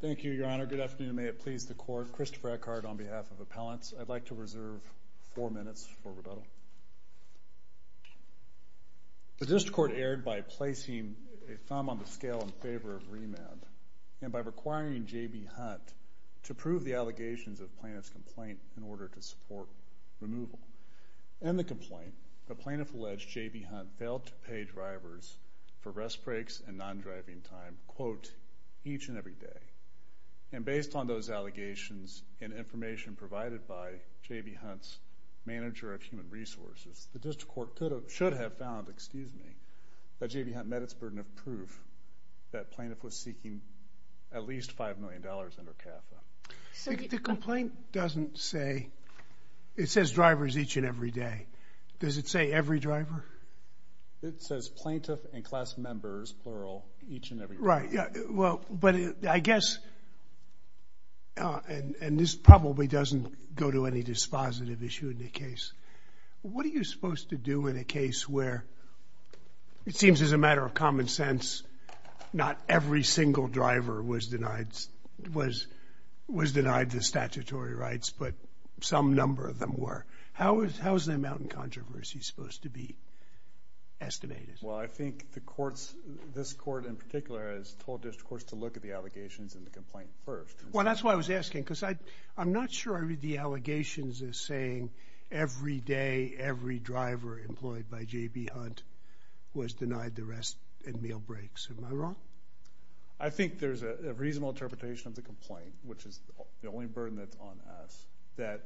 The District Court erred by placing a thumb on the scale in favor of remand and by requiring J.B. Hunt to prove the allegations of plaintiff's complaint in order to support removal. In the complaint, the plaintiff alleged J.B. Hunt failed to pay drivers for rest breaks and non-driving time, quote, each and every day. And based on those allegations and information provided by J.B. Hunt's manager of human resources, the District Court should have found that J.B. Hunt met its burden of proof that plaintiff was seeking at least $5 million under CAFA. The complaint doesn't say, it says drivers each and every day. Does it say every driver? It says plaintiff and class members, plural, each and every day. Right. Yeah. Well, but I guess, and this probably doesn't go to any dispositive issue in the case. What are you supposed to do in a case where it seems as a matter of common sense, not every single driver was denied the statutory rights, but some number of them were? How is that mountain controversy supposed to be estimated? Well, I think the courts, this court in particular, has told the District Court to look at the allegations in the complaint first. Well, that's why I was asking, because I'm not sure I read the allegations as saying every day, every driver employed by J.B. Hunt was denied the rest and meal breaks. Am I wrong? I think there's a reasonable interpretation of the complaint, which is the only burden that's on us, that...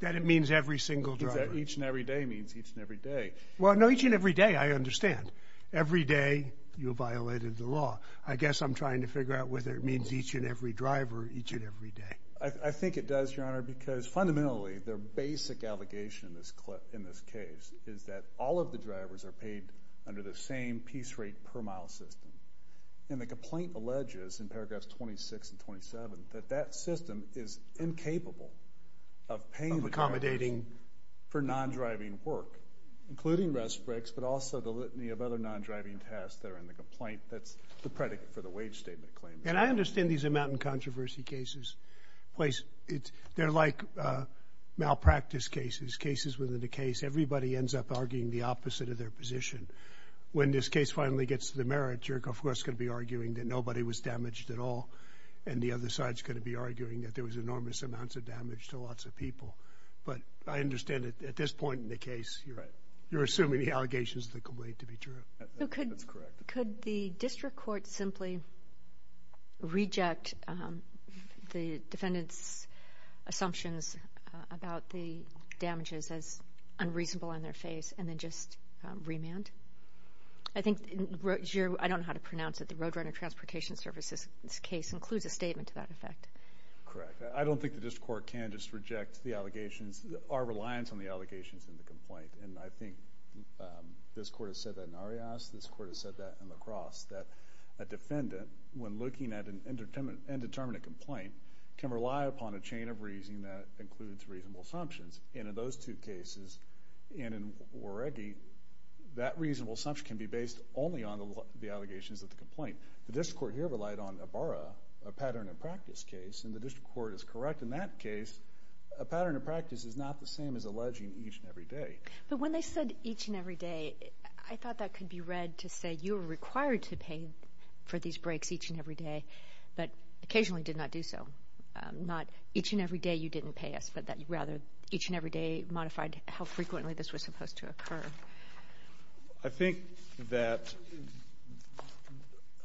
That it means every single driver. Each and every day means each and every day. Well, no, each and every day, I understand. Every day, you violated the law. I guess I'm trying to figure out whether it means each and every driver, each and every day. I think it does, Your Honor, because fundamentally, their basic allegation in this case is that all of the drivers are paid under the same piece rate per mile system. And the complaint alleges in paragraphs 26 and 27 that that system is incapable of paying... Of accommodating... For non-driving work, including rest breaks, but also the litany of other non-driving tasks that are in the complaint. That's the predicate for the wage statement claim. And I understand these like malpractice cases, cases within the case. Everybody ends up arguing the opposite of their position. When this case finally gets to the merits, you're, of course, going to be arguing that nobody was damaged at all. And the other side's going to be arguing that there was enormous amounts of damage to lots of people. But I understand that at this point in the case, you're assuming the allegations of the complaint to be true. That's correct. Could the district court simply reject the defendant's assumptions about the damages as unreasonable in their face and then just remand? I think, I don't know how to pronounce it, the Roadrunner Transportation Service's case includes a statement to that effect. Correct. I don't think the district court can just reject the allegations, our reliance on the allegations in the complaint. And I think this court has said that in Arias, this court has said that in La Crosse, that a defendant, when looking at an indeterminate complaint, can rely upon a chain of reasoning that includes reasonable assumptions. And in those two cases, and in Waregi, that reasonable assumption can be based only on the allegations of the complaint. The district court here relied on Ibarra, a pattern of practice case, and the district court is correct in that case. A pattern of practice is not the same as alleging each and every day. But when they said each and every day, I thought that could be read to say, you're required to pay for these breaks each and every day, but occasionally did not do so. Not each and every day you didn't pay us, but that you rather each and every day modified how frequently this was supposed to occur. I think that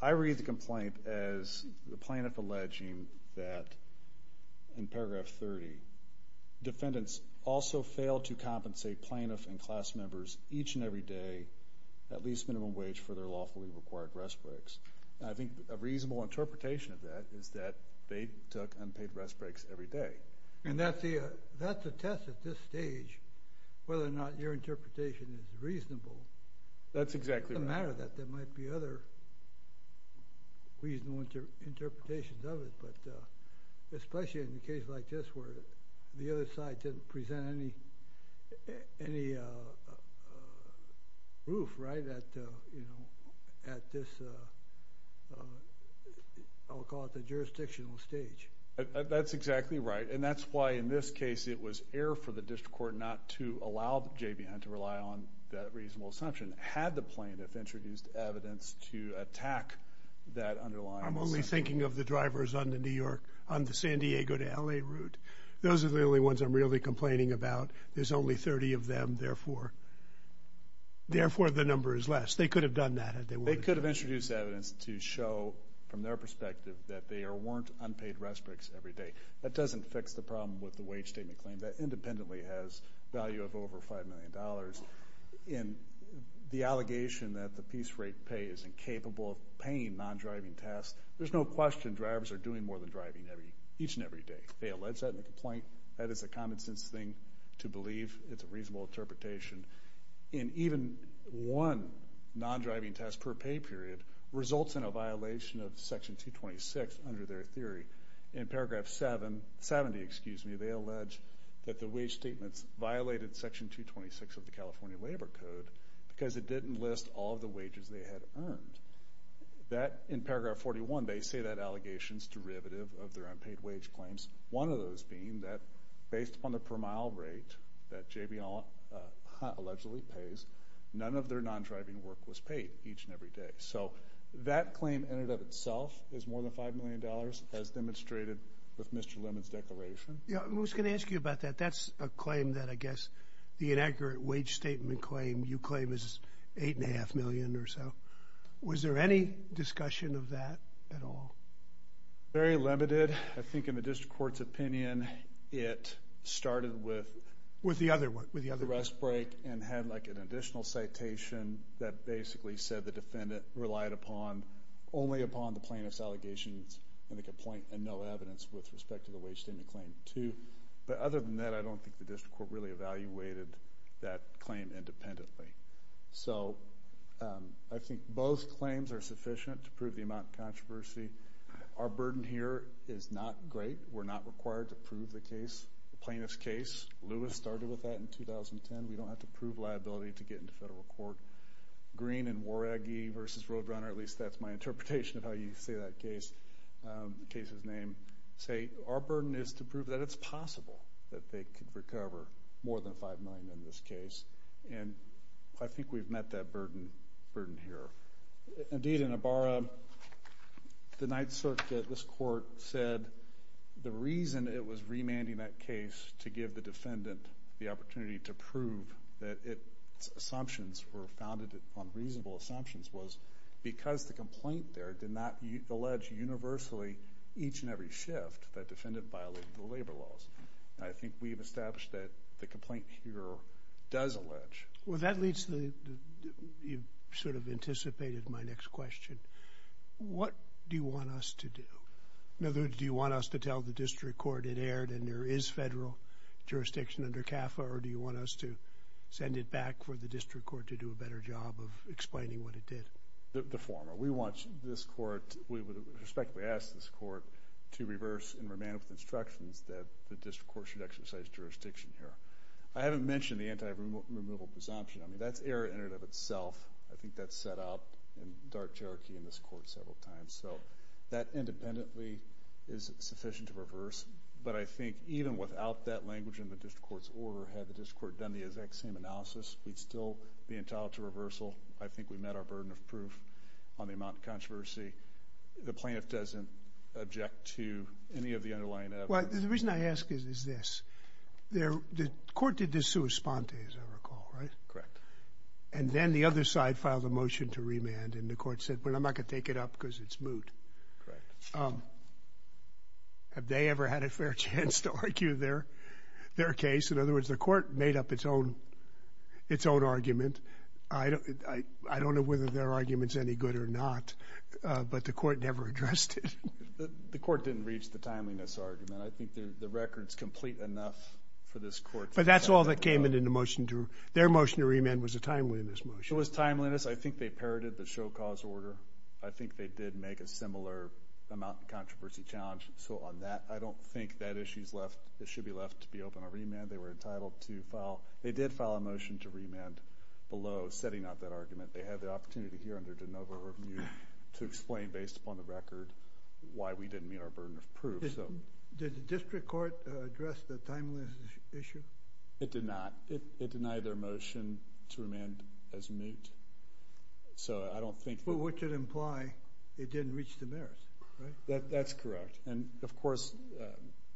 I read the complaint as the plaintiff alleging that, in paragraph 30, defendants also failed to compensate plaintiffs and class members each and every day at least minimum wage for their lawfully required rest breaks. I think a reasonable interpretation of that is that they took unpaid rest breaks every day. And that's a test at this stage, whether or not your interpretation is reasonable. That's exactly right. It doesn't matter that there might be other reasonable interpretations of it, but especially in a case like this where the other side didn't present any proof, right, at this, I'll call it the jurisdictional stage. That's exactly right, and that's why in this case it was error for the district court not to allow JBN to rely on that reasonable assumption, had the plaintiff introduced evidence to attack that underlying assumption. I'm only thinking of the drivers on the New York, on the San Diego to LA route. Those are the only ones I'm really complaining about. There's only 30 of them, therefore the number is less. They could have done that. They could have introduced evidence to show from their perspective that there weren't unpaid rest breaks every day. That doesn't fix the problem with the wage statement claim. That independently has value of over five million in the allegation that the piece rate pay is incapable of paying non-driving tests. There's no question drivers are doing more than driving every each and every day. They allege that in the complaint. That is a common sense thing to believe. It's a reasonable interpretation, and even one non-driving test per pay period results in a violation of section 226 under their theory. In paragraph 770, excuse me, they allege that the wage statements violated section 226 of the California Labor Code because it didn't list all the wages they had earned. That, in paragraph 41, they say that allegations derivative of their unpaid wage claims. One of those being that based upon the per mile rate that JBL allegedly pays, none of their non-driving work was paid each and every day. So that claim in and of itself is more than five million dollars as demonstrated with Mr. Lemon's declaration. Yeah, I was going to ask you about that. That's a claim that I guess the inaccurate wage statement claim you claim is eight and a half million or so. Was there any discussion of that at all? Very limited. I think in the district court's opinion, it started with the arrest break and had like an additional citation that basically said the defendant relied upon only upon the plaintiff's allegations in the complaint and no evidence with respect to the wage statement claim too. But other than that, I don't think the district court really evaluated that claim independently. So I think both claims are sufficient to prove the amount of controversy. Our burden here is not great. We're not required to prove the case, the plaintiff's case. Lewis started with that in 2010. We don't have to prove liability to get into federal court. Green and Waragi versus Roadrunner, at least that's my interpretation of how you say that case's name, say our burden is to prove that it's possible that they could recover more than five million in this case. And I think we've met that burden here. Indeed in Ibarra, the Ninth Circuit, this court said the reason it was remanding that case to give the defendant the opportunity to prove that its assumptions were founded on reasonable assumptions was because the complaint there did not allege universally each and every shift that violated the labor laws. I think we've established that the complaint here does allege. Well that leads to, you've sort of anticipated my next question. What do you want us to do? In other words, do you want us to tell the district court it aired and there is federal jurisdiction under CAFA or do you want us to send it back for the district court to do a better job of explaining what it did? The former. We want this court, we would respectfully ask this court to reverse and with instructions that the district court should exercise jurisdiction here. I haven't mentioned the anti-removal presumption. I mean that's error in and of itself. I think that's set up in dark Cherokee in this court several times. So that independently is sufficient to reverse. But I think even without that language in the district court's order, had the district court done the exact same analysis, we'd still be entitled to reversal. I think we met our burden of proof on the amount of controversy. The plaintiff doesn't object to any of the underlying evidence. Well the reason I ask is this. The court did this sua sponte as I recall, right? Correct. And then the other side filed a motion to remand and the court said, well I'm not going to take it up because it's moot. Correct. Have they ever had a fair chance to argue their case? In other words, any good or not. But the court never addressed it. The court didn't reach the timeliness argument. I think the record's complete enough for this court. But that's all that came in the motion. Their motion to remand was a timeliness motion. It was timeliness. I think they parroted the show cause order. I think they did make a similar amount of controversy challenge. So on that, I don't think that issue's left. It should be left to be open on remand. They were entitled to file. They did file a motion to remand below setting up that argument. They had the opportunity here under De Novo to explain based upon the record why we didn't meet our burden of proof. Did the district court address the timeliness issue? It did not. It denied their motion to remand as moot. So I don't think. Which would imply it didn't reach the merit, right? That's correct. And of course,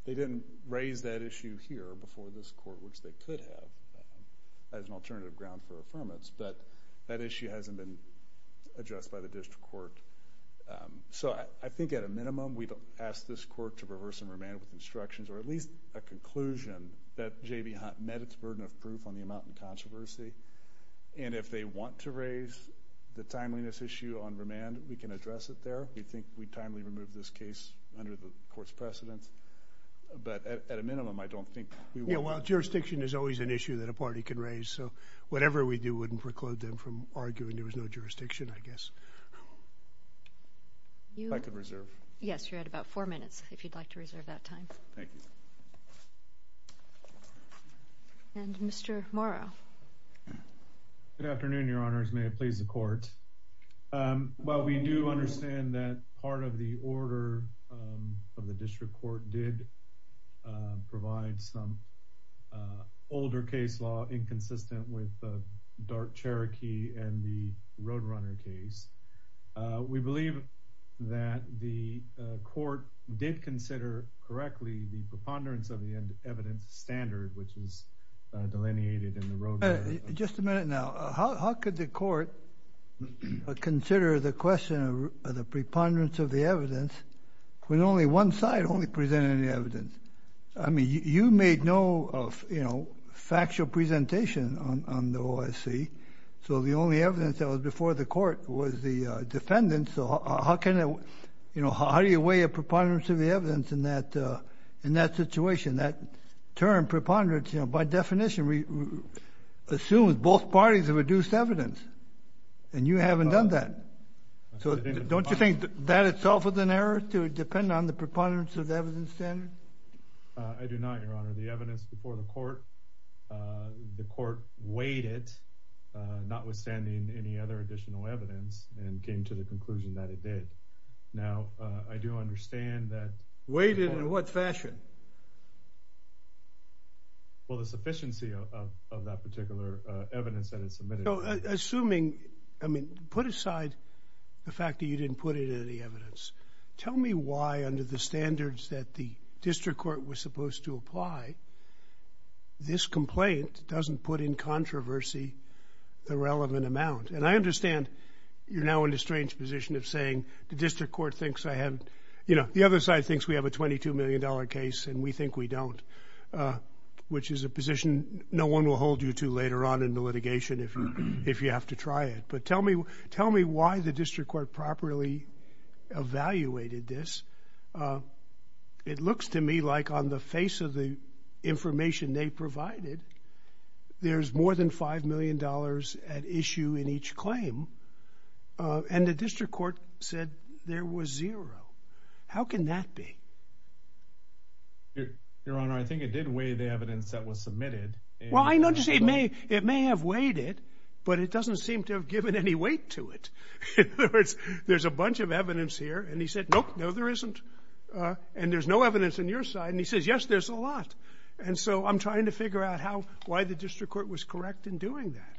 they didn't raise that issue here before this court, which they could as an alternative ground for affirmance. But that issue hasn't been addressed by the district court. So I think at a minimum, we've asked this court to reverse and remand with instructions or at least a conclusion that J.B. Hunt met its burden of proof on the amount of controversy. And if they want to raise the timeliness issue on remand, we can address it there. We think we timely removed this case under the court's precedence. But at a minimum, I don't think well, jurisdiction is always an issue that a party could raise. So whatever we do wouldn't preclude them from arguing there was no jurisdiction, I guess. I could reserve. Yes, you're at about four minutes if you'd like to reserve that time. Thank you. And Mr. Morrow. Good afternoon, Your Honors. May it please the court. Well, we do understand that part of the order of the district court did provide some older case law inconsistent with the Dark Cherokee and the Roadrunner case. We believe that the court did consider correctly the preponderance of the evidence standard, which is consider the question of the preponderance of the evidence when only one side only presented any evidence. I mean, you made no factual presentation on the OIC. So the only evidence that was before the court was the defendant. So how do you weigh a preponderance of the evidence in that situation? That term, preponderance, by definition assumes both parties have reduced evidence and you haven't done that. So don't you think that itself was an error to depend on the preponderance of the evidence standard? I do not, Your Honor. The evidence before the court, the court weighed it, notwithstanding any other additional evidence and came to the conclusion that it did. Now, I do understand that. Weighed it in what fashion? Well, the sufficiency of that particular evidence that is submitted. Assuming, I mean, put aside the fact that you didn't put in any evidence. Tell me why under the standards that the district court was supposed to apply, this complaint doesn't put in controversy the relevant amount. And I understand you're now in a strange position of saying the district court thinks I have, you know, the other side thinks we have a $22 million case and we think we don't, which is a position no one will hold you to later on in the litigation if you have to try it. But tell me why the district court properly evaluated this. It looks to me like on the face of the information they provided, there's more than $5 million at issue in each claim. And the district court said there was zero. How can that be? Your Honor, I think it did weigh the evidence that was submitted. Well, I noticed it may have weighed it, but it doesn't seem to have given any weight to it. There's a bunch of evidence here. And he said, nope, no, there isn't. And there's no evidence on your side. And he says, yes, there's a lot. And so I'm trying to figure out how, why the district court was correct in doing that.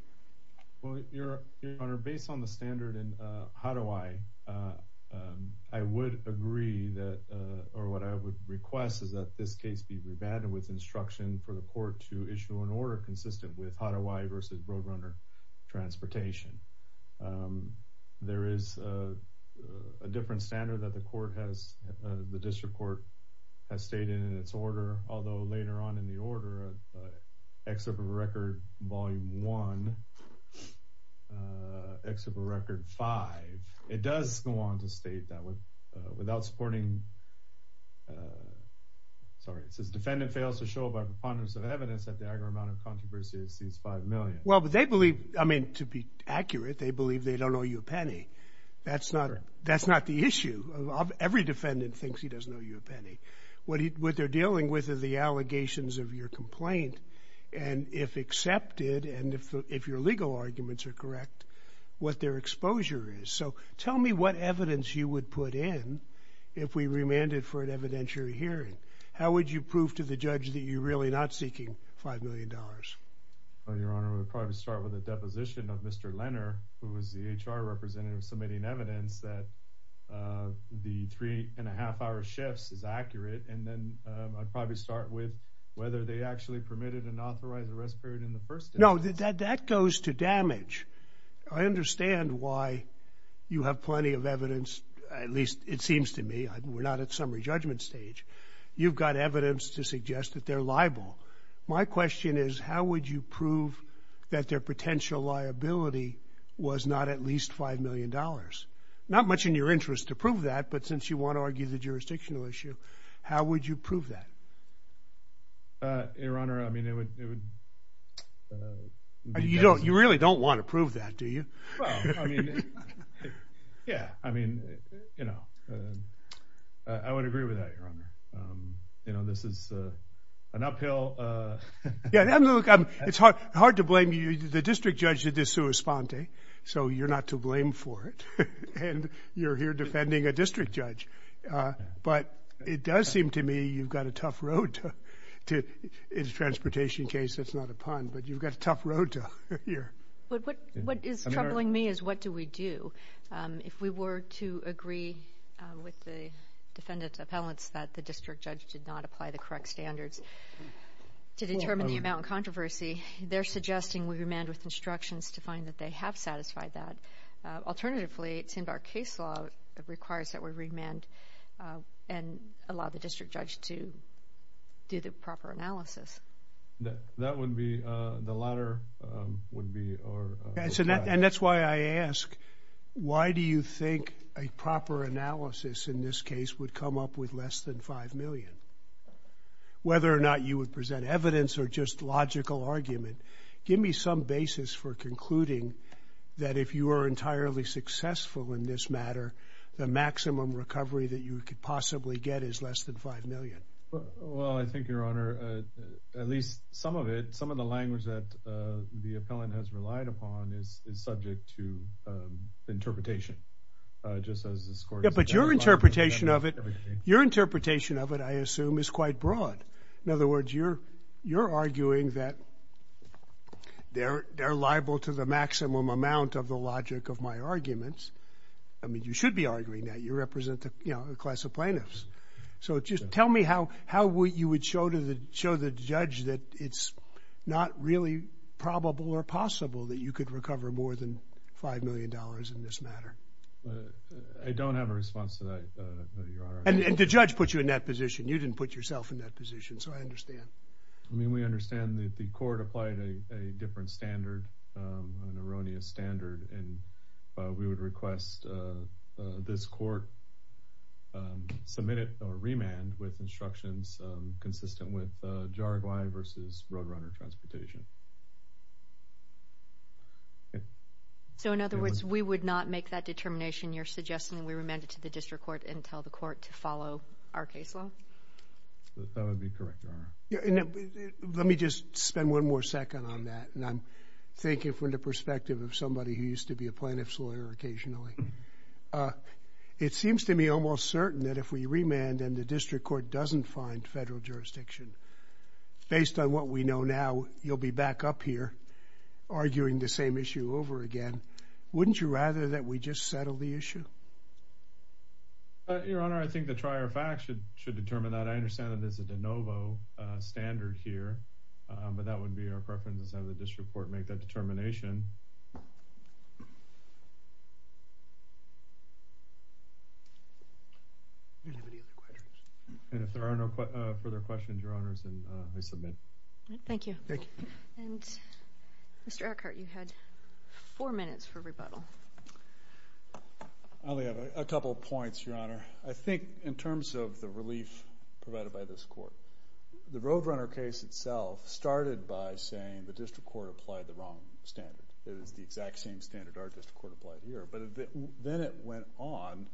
Well, Your Honor, based on the standard, how do I, I would agree that, or what I would request is that this case be remanded with instruction for the court to issue an order consistent with how do I versus Roadrunner Transportation. There is a different standard that the court has, the district court has stated in its order, although later on in the order of Exhibit Record Volume 1, uh, Exhibit Record 5, it does go on to state that without supporting, sorry, it says defendant fails to show by preponderance of evidence that the aggregate amount of controversy has seized 5 million. Well, but they believe, I mean, to be accurate, they believe they don't owe you a penny. That's not, that's not the issue. Every defendant thinks he doesn't owe you a penny. What he, what they're dealing with is the allegations of your complaint. And if accepted, and if, if your legal arguments are correct, what their exposure is. So tell me what evidence you would put in if we remanded for an evidentiary hearing. How would you prove to the judge that you're really not seeking $5 million? Well, Your Honor, we'll probably start with a deposition of Mr. Lenner, who was the HR representative submitting evidence that, uh, the three and a half hour shifts is accurate. And then, um, I'd probably start with whether they actually permitted an authorized arrest period in the first instance. No, that, that goes to damage. I understand why you have plenty of evidence, at least it seems to me. We're not at summary judgment stage. You've got evidence to suggest that they're liable. My question is, how would you prove that their potential liability was not at least $5 million? Not much in your interest to prove that, but since you want to argue the jurisdictional issue, how would you prove that? Uh, Your Honor, I mean, it would, it would, uh. You don't, you really don't want to prove that, do you? Well, I mean, yeah, I mean, you know, I would agree with that, Your Honor. Um, you know, this is, uh, an uphill, uh. Yeah, look, it's hard, hard to blame you. The district judge did this sua sponte, so you're not to blame for it, and you're here defending a district judge. Uh, but it does seem to me you've got a tough road to, in a transportation case, that's not a pun, but you've got a tough road to here. But what, what is troubling me is what do we do? Um, if we were to agree, uh, with the defendant's appellants that the district judge did not apply the correct standards to determine the amount of controversy, they're suggesting we remand with instructions to find that they have satisfied that. Uh, alternatively, it seems our case law requires that we remand, uh, and allow the district judge to do the proper analysis. That, that would be, uh, the latter, um, would be our, uh. And that's why I ask, why do you think a proper analysis in this case would come up with less than $5 million? Whether or not you would present evidence or just logical argument, give me some basis for concluding that if you are entirely successful in this matter, the maximum recovery that you could possibly get is less than $5 million. Well, well, I think your honor, uh, at least some of it, some of the language that, uh, the appellant has relied upon is, is subject to, um, interpretation, uh, just as this court. Yeah, but your interpretation of it, your interpretation of it, I assume is quite broad. In other words, you're, you're arguing that they're, they're liable to the maximum amount of the logic of my arguments. I mean, you should be arguing that you represent the, you know, a class of plaintiffs. So just tell me how, how would you would show to the, show the judge that it's not really probable or possible that you could recover more than $5 million in this matter? I don't have a response to that, uh, your honor. And the judge put you in that position. You didn't put yourself in that position. So I understand. I mean, we understand that the court applied a, a different standard, um, an erroneous standard. And, uh, we would request, uh, uh, this court, um, submit it or remand with instructions, um, consistent with, uh, jargon versus roadrunner transportation. So in other words, we would not make that determination you're suggesting we remanded to the district court and tell the court to follow our case law? That would be correct, your honor. Yeah. And let me just spend one more second on that. And I'm thinking from the perspective of somebody who used to be a plaintiff's lawyer occasionally, uh, it seems to me almost certain that if we remand and the district court doesn't find federal jurisdiction based on what we know now, you'll be back up here arguing the same issue over again. Wouldn't you rather that we just settle the issue? Your honor, I think the trier facts should, should determine that. I understand that there's a de novo, uh, standard here, um, but that would be our preference. How would this report make that determination? And if there are no further questions, your honors, and I submit. Thank you. And Mr. Eckert, you had four minutes for rebuttal. I only have a couple of points, your honor. I think in terms of the relief provided by this court, the Roadrunner case itself started by saying the district court applied the wrong standard. It is the exact same standard our district court applied here. But then it went on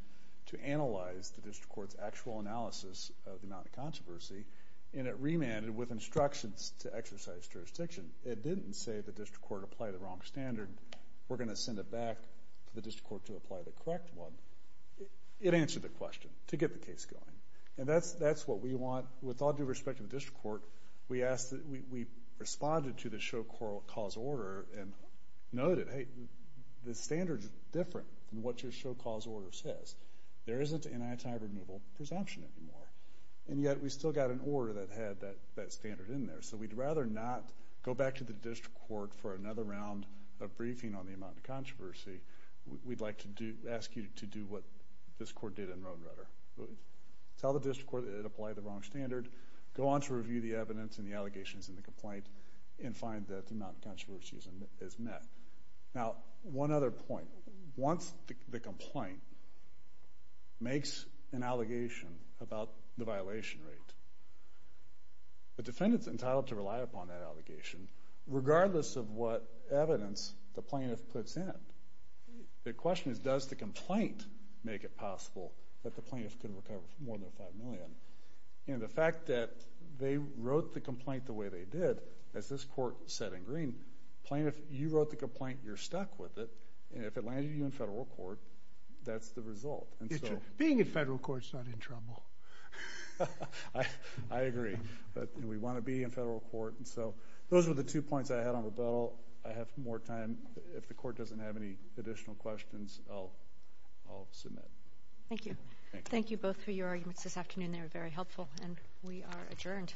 to analyze the district court's actual analysis of the amount of controversy. And it remanded with instructions to exercise jurisdiction. It didn't say the district court applied the wrong standard, we're going to send it back to the district court to apply the correct one. It answered the question to get the case going. And that's, that's what we want. With all due respect to the district court, we asked, we responded to the show cause order and noted, hey, the standard's different than what your show cause order says. There isn't an anti-removal presumption anymore. And yet we still got an order that had that standard in there. So we'd rather not go back to the district court for another round of briefing on the amount of controversy, we'd like to do, ask you to do what this court did in Roadrunner. Tell the district court it applied the wrong standard, go on to review the evidence and the allegations in the complaint, and find that the amount of controversy is met. Now, one other point. Once the complaint makes an allegation about the violation rate, the defendant's entitled to rely upon that allegation, regardless of what evidence the plaintiff puts in it. The question is, does the complaint make it possible that the plaintiff could recover more than $5 million? And the fact that they wrote the complaint the way they did, as this court said in green, plaintiff, you wrote the complaint, you're stuck with it. And if it lands you in federal court, that's the result. Being in federal court's not in trouble. I agree. But we want to be in federal court. And so those were the two points I had on the bill. I have more time. If the court doesn't have any additional questions, I'll submit. Thank you. Thank you both for your arguments this afternoon. They were very helpful. And we are adjourned.